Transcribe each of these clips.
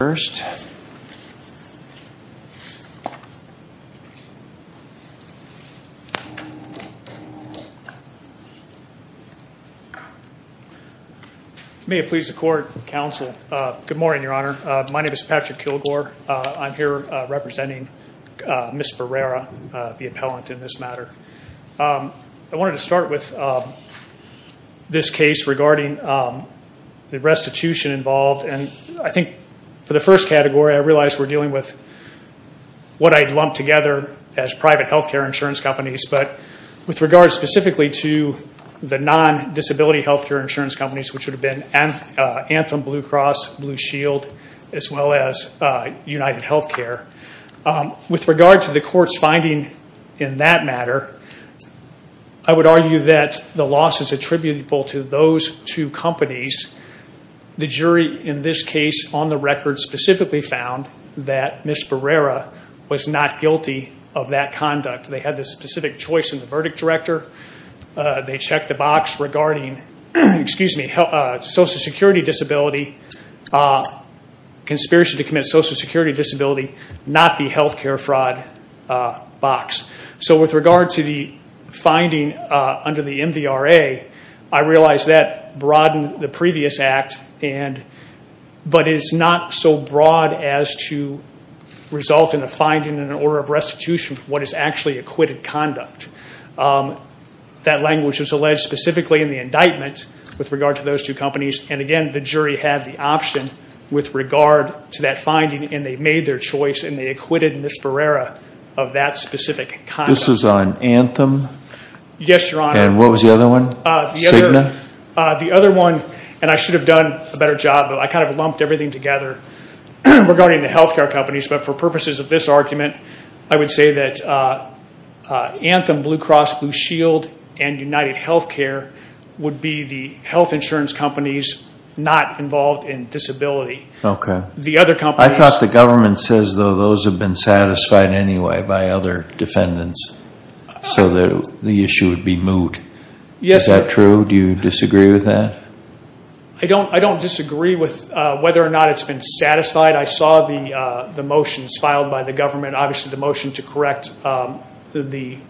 Good morning, Your Honor. My name is Patrick Kilgore. I'm here representing Ms. Barrera, the appellant in this matter. I wanted to start with this case regarding the restitution involved. I think for the first category, I realize we're dealing with what I'd lumped together as private health care insurance companies, but with regard specifically to the non-disability health care insurance companies, which would have been Anthem, Blue Cross, Blue Shield, as well as UnitedHealthcare. With regard to the court's finding in that matter, I would argue that the loss is attributable to those two companies. The jury in this case, on the record, specifically found that Ms. Barrera was not guilty of that conduct. They had the specific choice in the verdict director. They checked the box regarding social security disability, conspiracy to commit social security disability, not the health care fraud box. With regard to the finding under the MVRA, I realize that broadened the previous act, but it's not so broad as to result in a finding in an order of restitution for what is actually acquitted conduct. That language was alleged specifically in the indictment with regard to those two companies, and again, the jury had the option with regard to that finding, and they made their choice, and they acquitted Ms. Barrera of that specific conduct. This is on Anthem? Yes, Your Honor. And what was the other one, Cigna? The other one, and I should have done a better job, but I kind of lumped everything together regarding the health care companies. But for purposes of this argument, I would say that Anthem, Blue Cross, Blue Shield, and UnitedHealthcare would be the health insurance companies not involved in disability. The other companies... I thought the government says those have been satisfied anyway by other defendants, so the issue would be moved. Is that true? Do you disagree with that? I don't disagree with whether or not it's been satisfied. I saw the motions filed by the government, obviously the motion to correct the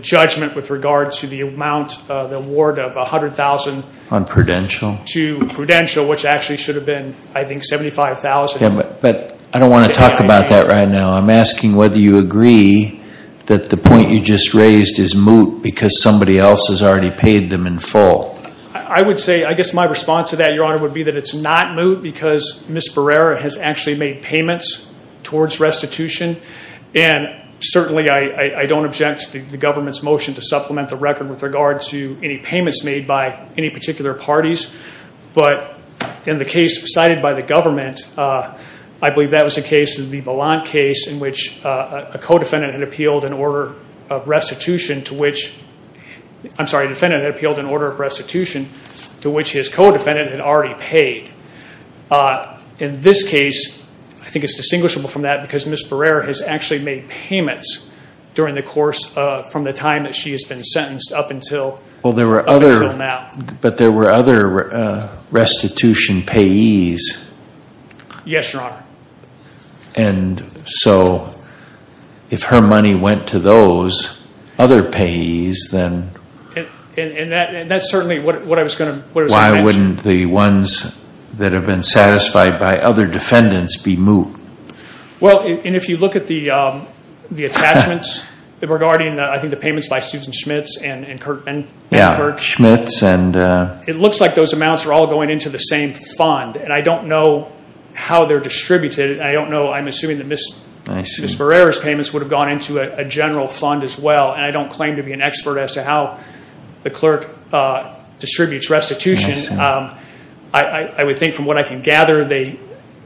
judgment with regard to the award of $100,000... On Prudential? To Prudential, which actually should have been, I think, $75,000. But I don't want to talk about that right now. I'm asking whether you agree that the point you just raised is moot because somebody else has already paid them in full. I would say, I guess my response to that, Your Honor, would be that it's not moot because Ms. Barrera has actually made payments towards restitution, and certainly I don't object to the government's motion to supplement the record with regard to any payments made by any particular parties. But in the case cited by the government, I believe that was the case, the Bilant case in which a defendant had appealed an order of restitution to which his co-defendant had already paid. In this case, I think it's distinguishable from that because Ms. Barrera has actually made payments during the course, from the time that she has been sentenced up until now. But there were other restitution payees. Yes, Your Honor. And so if her money went to those other payees, then... That's certainly what I was going to mention. Why wouldn't the ones that have been satisfied by other defendants be moot? Well, and if you look at the attachments regarding, I think, the payments by Susan Schmitz and Kurt Schmitz, it looks like those amounts are all going into the same fund. And I don't know how they're distributed, and I don't know, I'm assuming that Ms. Barrera's payments would have gone into a general fund as well, and I don't claim to be an expert as to how the clerk distributes restitution. I would think from what I can gather, they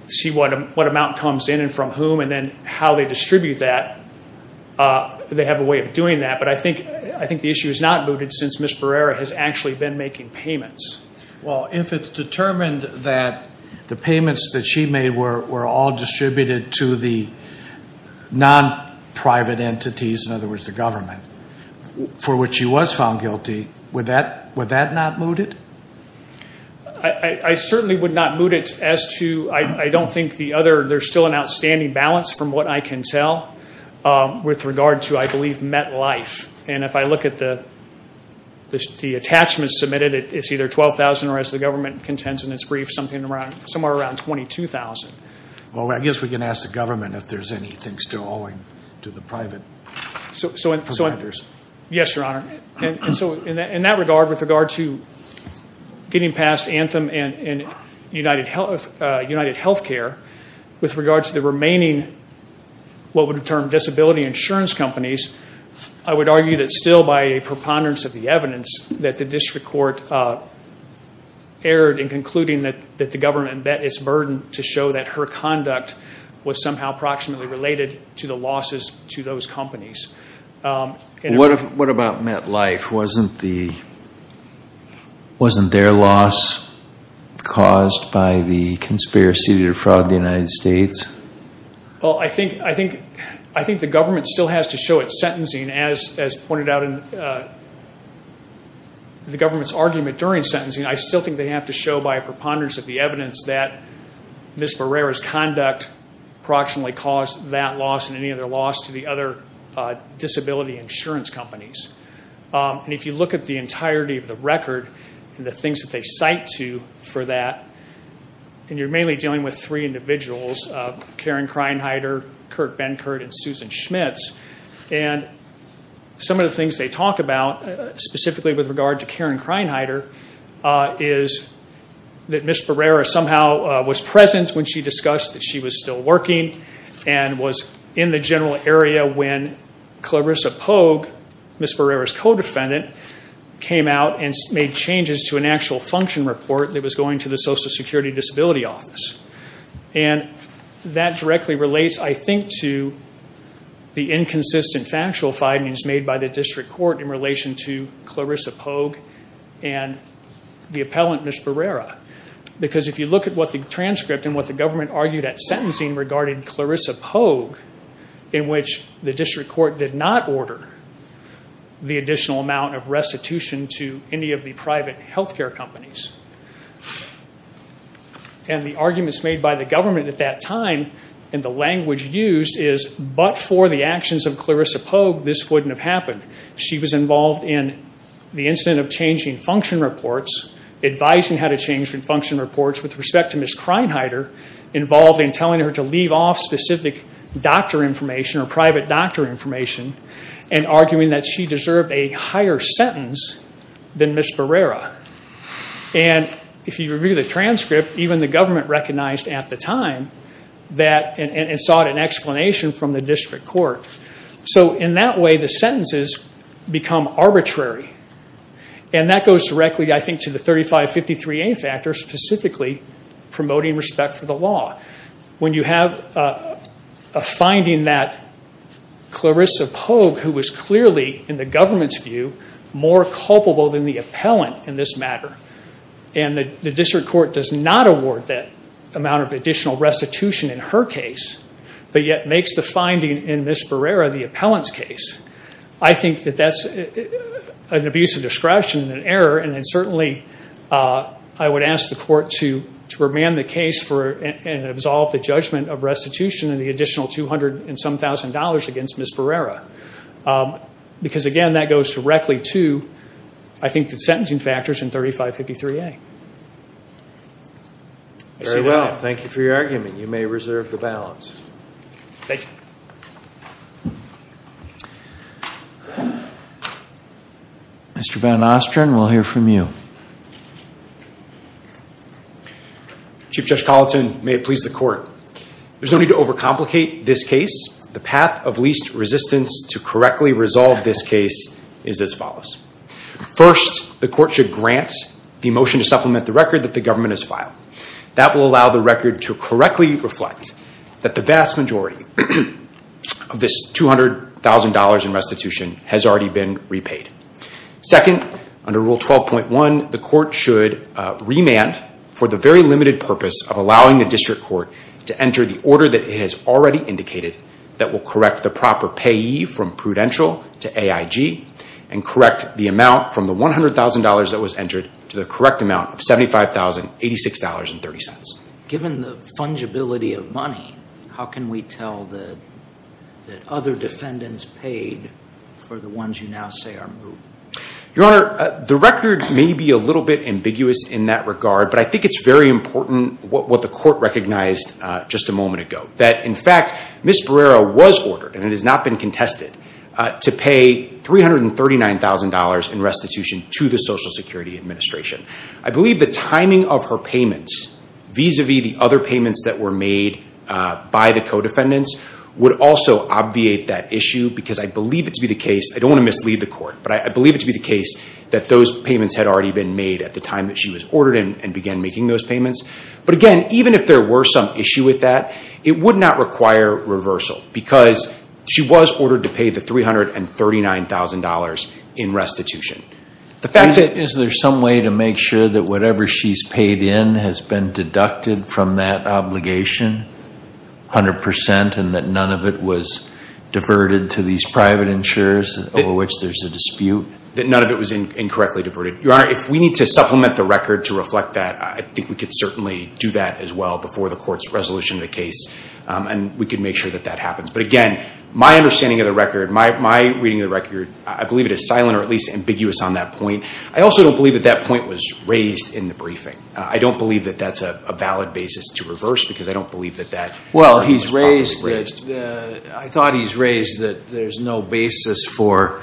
see what amount comes in and from whom, and then how they distribute that, they have a way of doing that. But I think the issue is not mooted since Ms. Barrera has actually been making payments. Well, if it's determined that the payments that she made were all distributed to the non-private entities, in other words, the government, for which she was found guilty, would that not moot it? I certainly would not moot it as to, I don't think the other, there's still an outstanding balance from what I can tell with regard to, I believe, MetLife. And if I look at the attachments submitted, it's either $12,000 or, as the government contends in its brief, something around, somewhere around $22,000. Well, I guess we can ask the government if there's anything still owing to the private providers. Yes, Your Honor. And so in that regard, with regard to getting past Anthem and UnitedHealthcare, with regard to the remaining, what would be termed, disability insurance companies, I would argue that still by a preponderance of the evidence, that the district court erred in concluding that the government met its burden to show that her conduct was somehow approximately related to the losses to those companies. What about MetLife? Wasn't the, wasn't their loss caused by the conspiracy to defraud the United States? Well, I think, I think, I think the government still has to show at sentencing, as pointed out in the government's argument during sentencing, I still think they have to show by a preponderance of the evidence that Ms. Barrera's conduct approximately caused that loss and any other loss to the other disability insurance companies. And if you look at the entirety of the record and the things that they cite to for that, and you're mainly dealing with three individuals, Karen Kreinheider, Kurt Benkert, and Susan Schmitz, and some of the things they talk about, specifically with regard to Karen Kreinheider, is that Ms. Barrera somehow was present when she discussed that she was still working and was in the general area when Clarissa Pogue, Ms. Barrera's co-defendant, came out and made changes to an actual function report that was going to the Social Security Disability Office. And that directly relates, I think, to the inconsistent factual findings made by the district court in relation to Clarissa Pogue and the appellant, Ms. Barrera. Because if you look at what the transcript and what the government argued at sentencing regarding Clarissa Pogue, in which the district court did not order the additional amount of restitution to any of the private health care companies, and the arguments made by the government at that time and the language used is, but for the actions of Clarissa Pogue, this wouldn't have happened. She was involved in the incident of changing function reports, advising how to change function reports with respect to Ms. Kreinheider, involved in telling her to leave off specific doctor information or private doctor information, and arguing that she deserved a higher sentence than Ms. Barrera. And if you review the transcript, even the government recognized at the time and sought an explanation from the district court. So in that way, the sentences become arbitrary. And that goes directly, I think, to the 3553A factor, specifically promoting respect for the law. When you have a finding that Clarissa Pogue, who was clearly, in the government's view, more culpable than the appellant in this matter, and the district court does not award that amount of additional restitution in her case, but yet makes the finding in Ms. Barrera, the appellant's case, I think that that's an abuse of discretion and error, and certainly I would ask the court to remand the case and absolve the judgment of restitution and the additional $200,000 and some thousand against Ms. Barrera. Because again, that goes directly to, I think, the sentencing factors in 3553A. I see what I have. Thank you for your argument. You may reserve the balance. Thank you. Mr. Van Ostrin, we'll hear from you. Chief Judge Colleton, may it please the court, there's no need to overcomplicate this case. The path of least resistance to correctly resolve this case is as follows. First, the court should grant the motion to supplement the record that the government has filed. That will allow the record to correctly reflect that the vast majority of this $200,000 in restitution has already been repaid. Second, under Rule 12.1, the court should remand for the very limited purpose of allowing the district court to enter the order that it has already indicated that will correct the proper payee from prudential to AIG and correct the amount from the $100,000 that was entered to the correct amount of $75,086.30. Given the fungibility of money, how can we tell that other defendants paid for the ones you now say are moot? Your Honor, the record may be a little bit ambiguous in that regard, but I think it's very important what the court recognized just a moment ago. That in fact, Ms. Barrera was ordered, and it has not been contested, to pay $339,000 in restitution to the Social Security Administration. I believe the timing of her payments vis-a-vis the other payments that were made by the co-defendants would also obviate that issue because I believe it to be the case, I don't want to mislead the court, but I believe it to be the case that those payments had already been made at the time that she was ordered and began making those payments. But again, even if there were some issue with that, it would not require reversal because she was ordered to pay the $339,000 in restitution. Is there some way to make sure that whatever she's paid in has been deducted from that obligation, 100%, and that none of it was diverted to these private insurers over which there's a dispute? That none of it was incorrectly diverted. Your Honor, if we need to supplement the record to reflect that, I think we could certainly do that as well before the court's resolution of the case, and we could make sure that that My understanding of the record, my reading of the record, I believe it is silent or at least ambiguous on that point. I also don't believe that that point was raised in the briefing. I don't believe that that's a valid basis to reverse because I don't believe that that was properly raised. Well, he's raised that, I thought he's raised that there's no basis for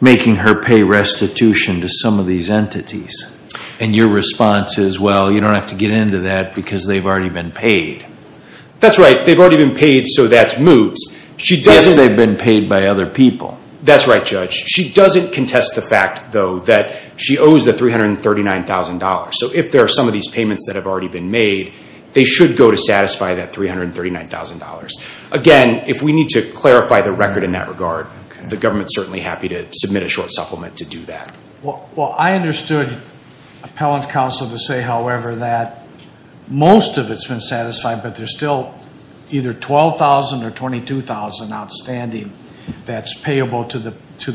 making her pay restitution to some of these entities. And your response is, well, you don't have to get into that because they've already been paid. That's right. They've already been paid, so that's moot. She doesn't... Because they've been paid by other people. That's right, Judge. She doesn't contest the fact, though, that she owes the $339,000. So if there are some of these payments that have already been made, they should go to satisfy that $339,000. Again, if we need to clarify the record in that regard, the government's certainly happy to submit a short supplement to do that. Well, I understood Appellant Counsel to say, however, that most of it's been satisfied, but there's still either $12,000 or $22,000 outstanding that's payable to the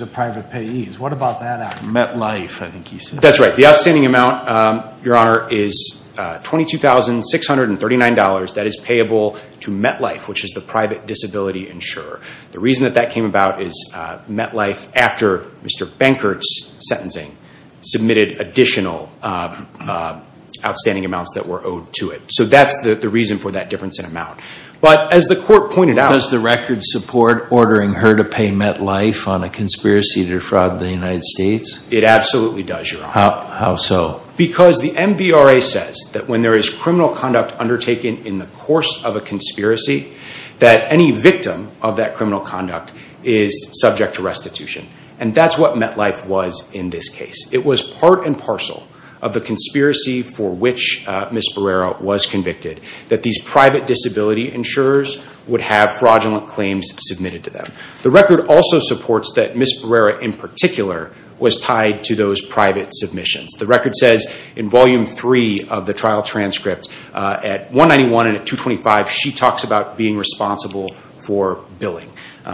private payees. What about that? MetLife, I think he said. That's right. The outstanding amount, Your Honor, is $22,639 that is payable to MetLife, which is the private disability insurer. The reason that that came about is MetLife, after Mr. Benkert's sentencing, submitted additional outstanding amounts that were owed to it. So that's the reason for that difference in amount. But as the court pointed out- Does the record support ordering her to pay MetLife on a conspiracy to defraud the United States? It absolutely does, Your Honor. How so? Because the MVRA says that when there is criminal conduct undertaken in the course of a conspiracy, that any victim of that criminal conduct is subject to restitution. And that's what MetLife was in this case. It was part and parcel of the conspiracy for which Ms. Barrera was convicted, that these private disability insurers would have fraudulent claims submitted to them. The record also supports that Ms. Barrera, in particular, was tied to those private submissions. The record says, in Volume 3 of the trial transcript, at 191 and at 225, she talks about being responsible for billing.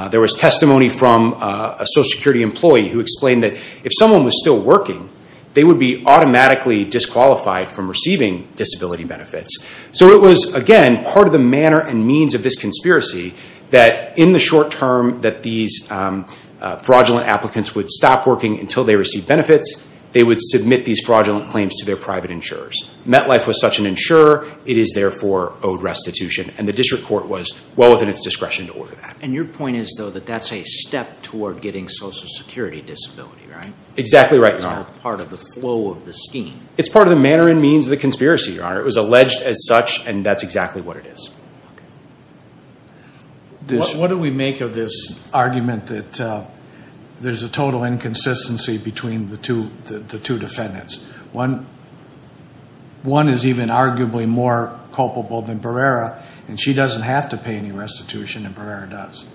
There was testimony from a Social Security employee who explained that if someone was still working, they would be automatically disqualified from receiving disability benefits. So it was, again, part of the manner and means of this conspiracy that in the short term that these fraudulent applicants would stop working until they received benefits, they would submit these fraudulent claims to their private insurers. MetLife was such an insurer, it is therefore owed restitution. And the district court was well within its discretion to order that. And your point is, though, that that's a step toward getting Social Security disability, right? Exactly right, Your Honor. It's all part of the flow of the scheme. It's part of the manner and means of the conspiracy, Your Honor. It was alleged as such, and that's exactly what it is. Okay. What do we make of this argument that there's a total inconsistency between the two defendants? One is even arguably more culpable than Barrera, and she doesn't have to pay any restitution, and Barrera does.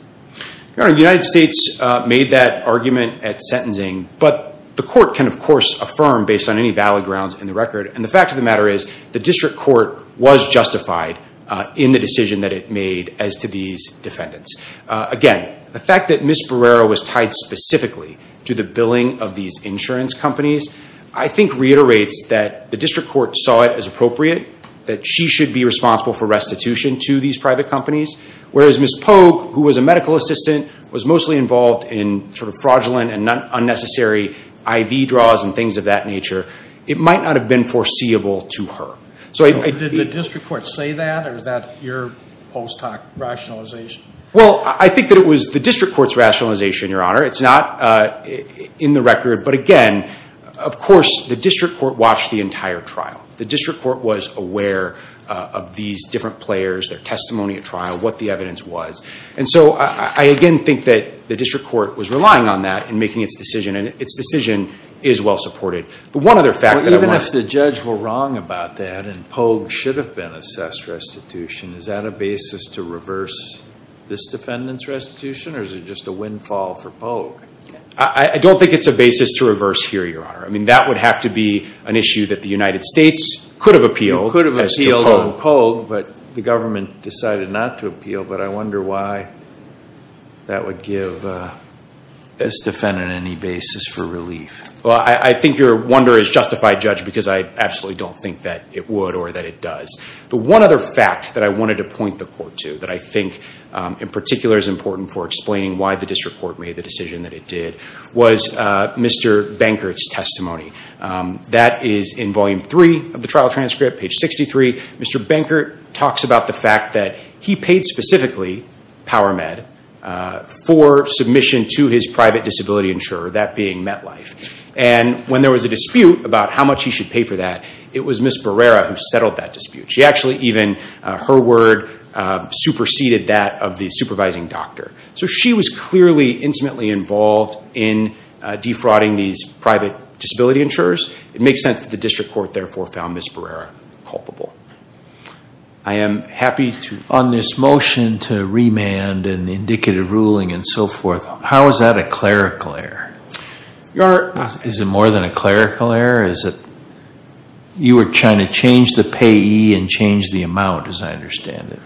Your Honor, the United States made that argument at sentencing, but the court can, of course, affirm based on any valid grounds in the record. And the fact of the matter is, the district court was justified in the decision that it made as to these defendants. Again, the fact that Ms. Barrera was tied specifically to the billing of these insurance companies, I think reiterates that the district court saw it as appropriate that she should be responsible for restitution to these private companies, whereas Ms. Pogue, who was a medical assistant, was mostly involved in fraudulent and unnecessary IV draws and things of that nature. It might not have been foreseeable to her. Did the district court say that, or is that your post hoc rationalization? Well, I think that it was the district court's rationalization, Your Honor. It's not in the record, but again, of course, the district court watched the entire trial. The district court was aware of these different players, their testimony at trial, what the evidence was. And so I, again, think that the district court was relying on that in making its decision, and its decision is well supported. The one other fact that I want to... Even if the judge were wrong about that and Pogue should have been assessed restitution, is that a basis to reverse this defendant's restitution, or is it just a windfall for Pogue? I don't think it's a basis to reverse here, Your Honor. I mean, that would have to be an issue that the United States could have appealed as to Pogue. I don't know Pogue, but the government decided not to appeal, but I wonder why that would give this defendant any basis for relief. Well, I think your wonder is justified, Judge, because I absolutely don't think that it would or that it does. The one other fact that I wanted to point the court to that I think in particular is important for explaining why the district court made the decision that it did was Mr. Bankert's testimony. That is in volume three of the trial transcript, page 63. Mr. Bankert talks about the fact that he paid specifically PowerMed for submission to his private disability insurer, that being MetLife. And when there was a dispute about how much he should pay for that, it was Ms. Barrera who settled that dispute. She actually even... Her word superseded that of the supervising doctor. So she was clearly intimately involved in defrauding these private disability insurers. It makes sense that the district court therefore found Ms. Barrera culpable. I am happy to... On this motion to remand and indicative ruling and so forth, how is that a clerical error? Is it more than a clerical error? You were trying to change the payee and change the amount, as I understand it.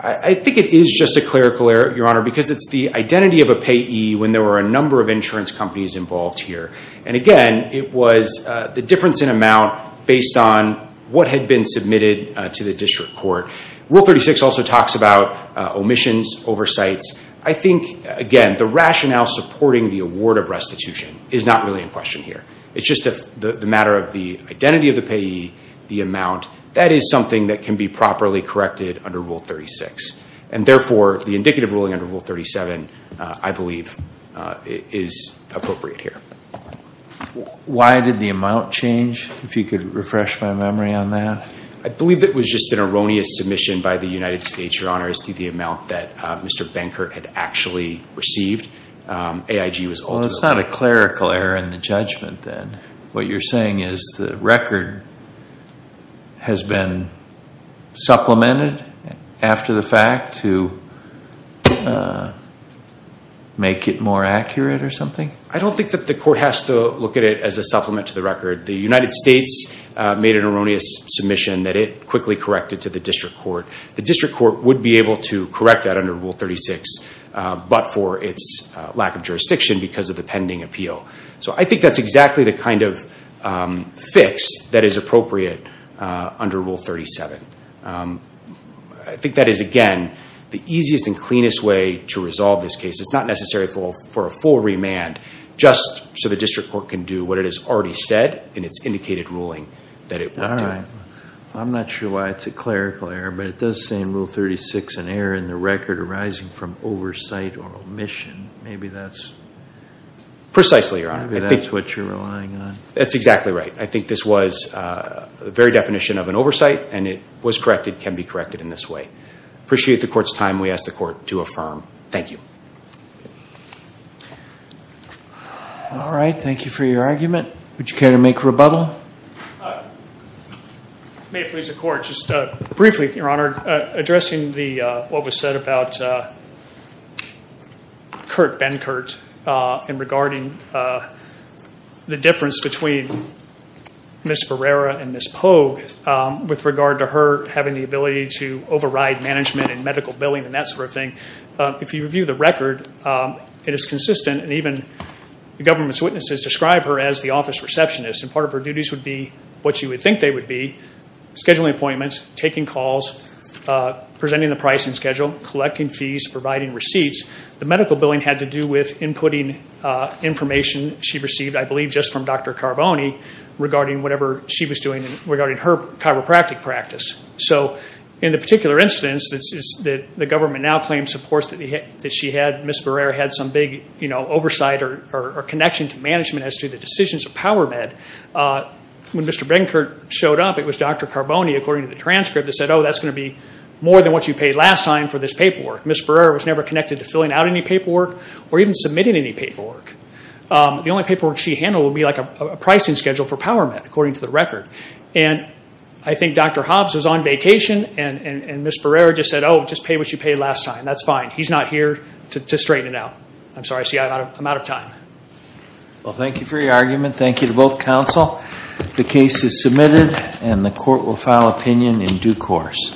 I think it is just a clerical error, Your Honor, because it's the identity of a payee when there were a number of insurance companies involved here. And again, it was the difference in amount based on what had been submitted to the district court. Rule 36 also talks about omissions, oversights. I think, again, the rationale supporting the award of restitution is not really in question here. It's just the matter of the identity of the payee, the amount. That is something that can be properly corrected under Rule 36. And therefore, the indicative ruling under Rule 37, I believe, is appropriate here. Why did the amount change, if you could refresh my memory on that? I believe it was just an erroneous submission by the United States, Your Honor, as to the amount that Mr. Benkert had actually received. AIG was ultimately... Well, it's not a clerical error in the judgment, then. What you're saying is the record has been supplemented after the fact to make it more accurate or something? I don't think that the court has to look at it as a supplement to the record. The United States made an erroneous submission that it quickly corrected to the district court. The district court would be able to correct that under Rule 36, but for its lack of jurisdiction because of the pending appeal. I think that's exactly the kind of fix that is appropriate under Rule 37. I think that is, again, the easiest and cleanest way to resolve this case. It's not necessary for a full remand, just so the district court can do what it has already said in its indicated ruling that it would do. I'm not sure why it's a clerical error, but it does say in Rule 36, an error in the record arising from oversight or omission. Maybe that's... Precisely. Maybe that's what you're relying on. That's exactly right. I think this was the very definition of an oversight, and it was corrected, can be corrected in this way. I appreciate the court's time. We ask the court to affirm. Thank you. All right. Thank you for your argument. Would you care to make a rebuttal? May it please the court. Just briefly, Your Honor, addressing what was said about Kurt Benkert and regarding the difference between Ms. Barrera and Ms. Pogue with regard to her having the ability to override management and medical billing and that sort of thing. If you review the record, it is consistent, and even the government's witnesses describe her as the office receptionist, and part of her duties would be what you would think they taking calls, presenting the pricing schedule, collecting fees, providing receipts. The medical billing had to do with inputting information she received, I believe, just from Dr. Carboni regarding whatever she was doing regarding her chiropractic practice. So in the particular instance that the government now claims supports that she had, Ms. Barrera had some big oversight or connection to management as to the decisions of PowerMed. When Mr. Benkert showed up, it was Dr. Carboni, according to the transcript, that said, oh, that's going to be more than what you paid last time for this paperwork. Ms. Barrera was never connected to filling out any paperwork or even submitting any paperwork. The only paperwork she handled would be like a pricing schedule for PowerMed, according to the record. I think Dr. Hobbs was on vacation, and Ms. Barrera just said, oh, just pay what you paid last time. That's fine. He's not here to straighten it out. I'm sorry. I'm out of time. Well, thank you for your argument. Thank you to both counsel. The case is submitted, and the court will file opinion in due course.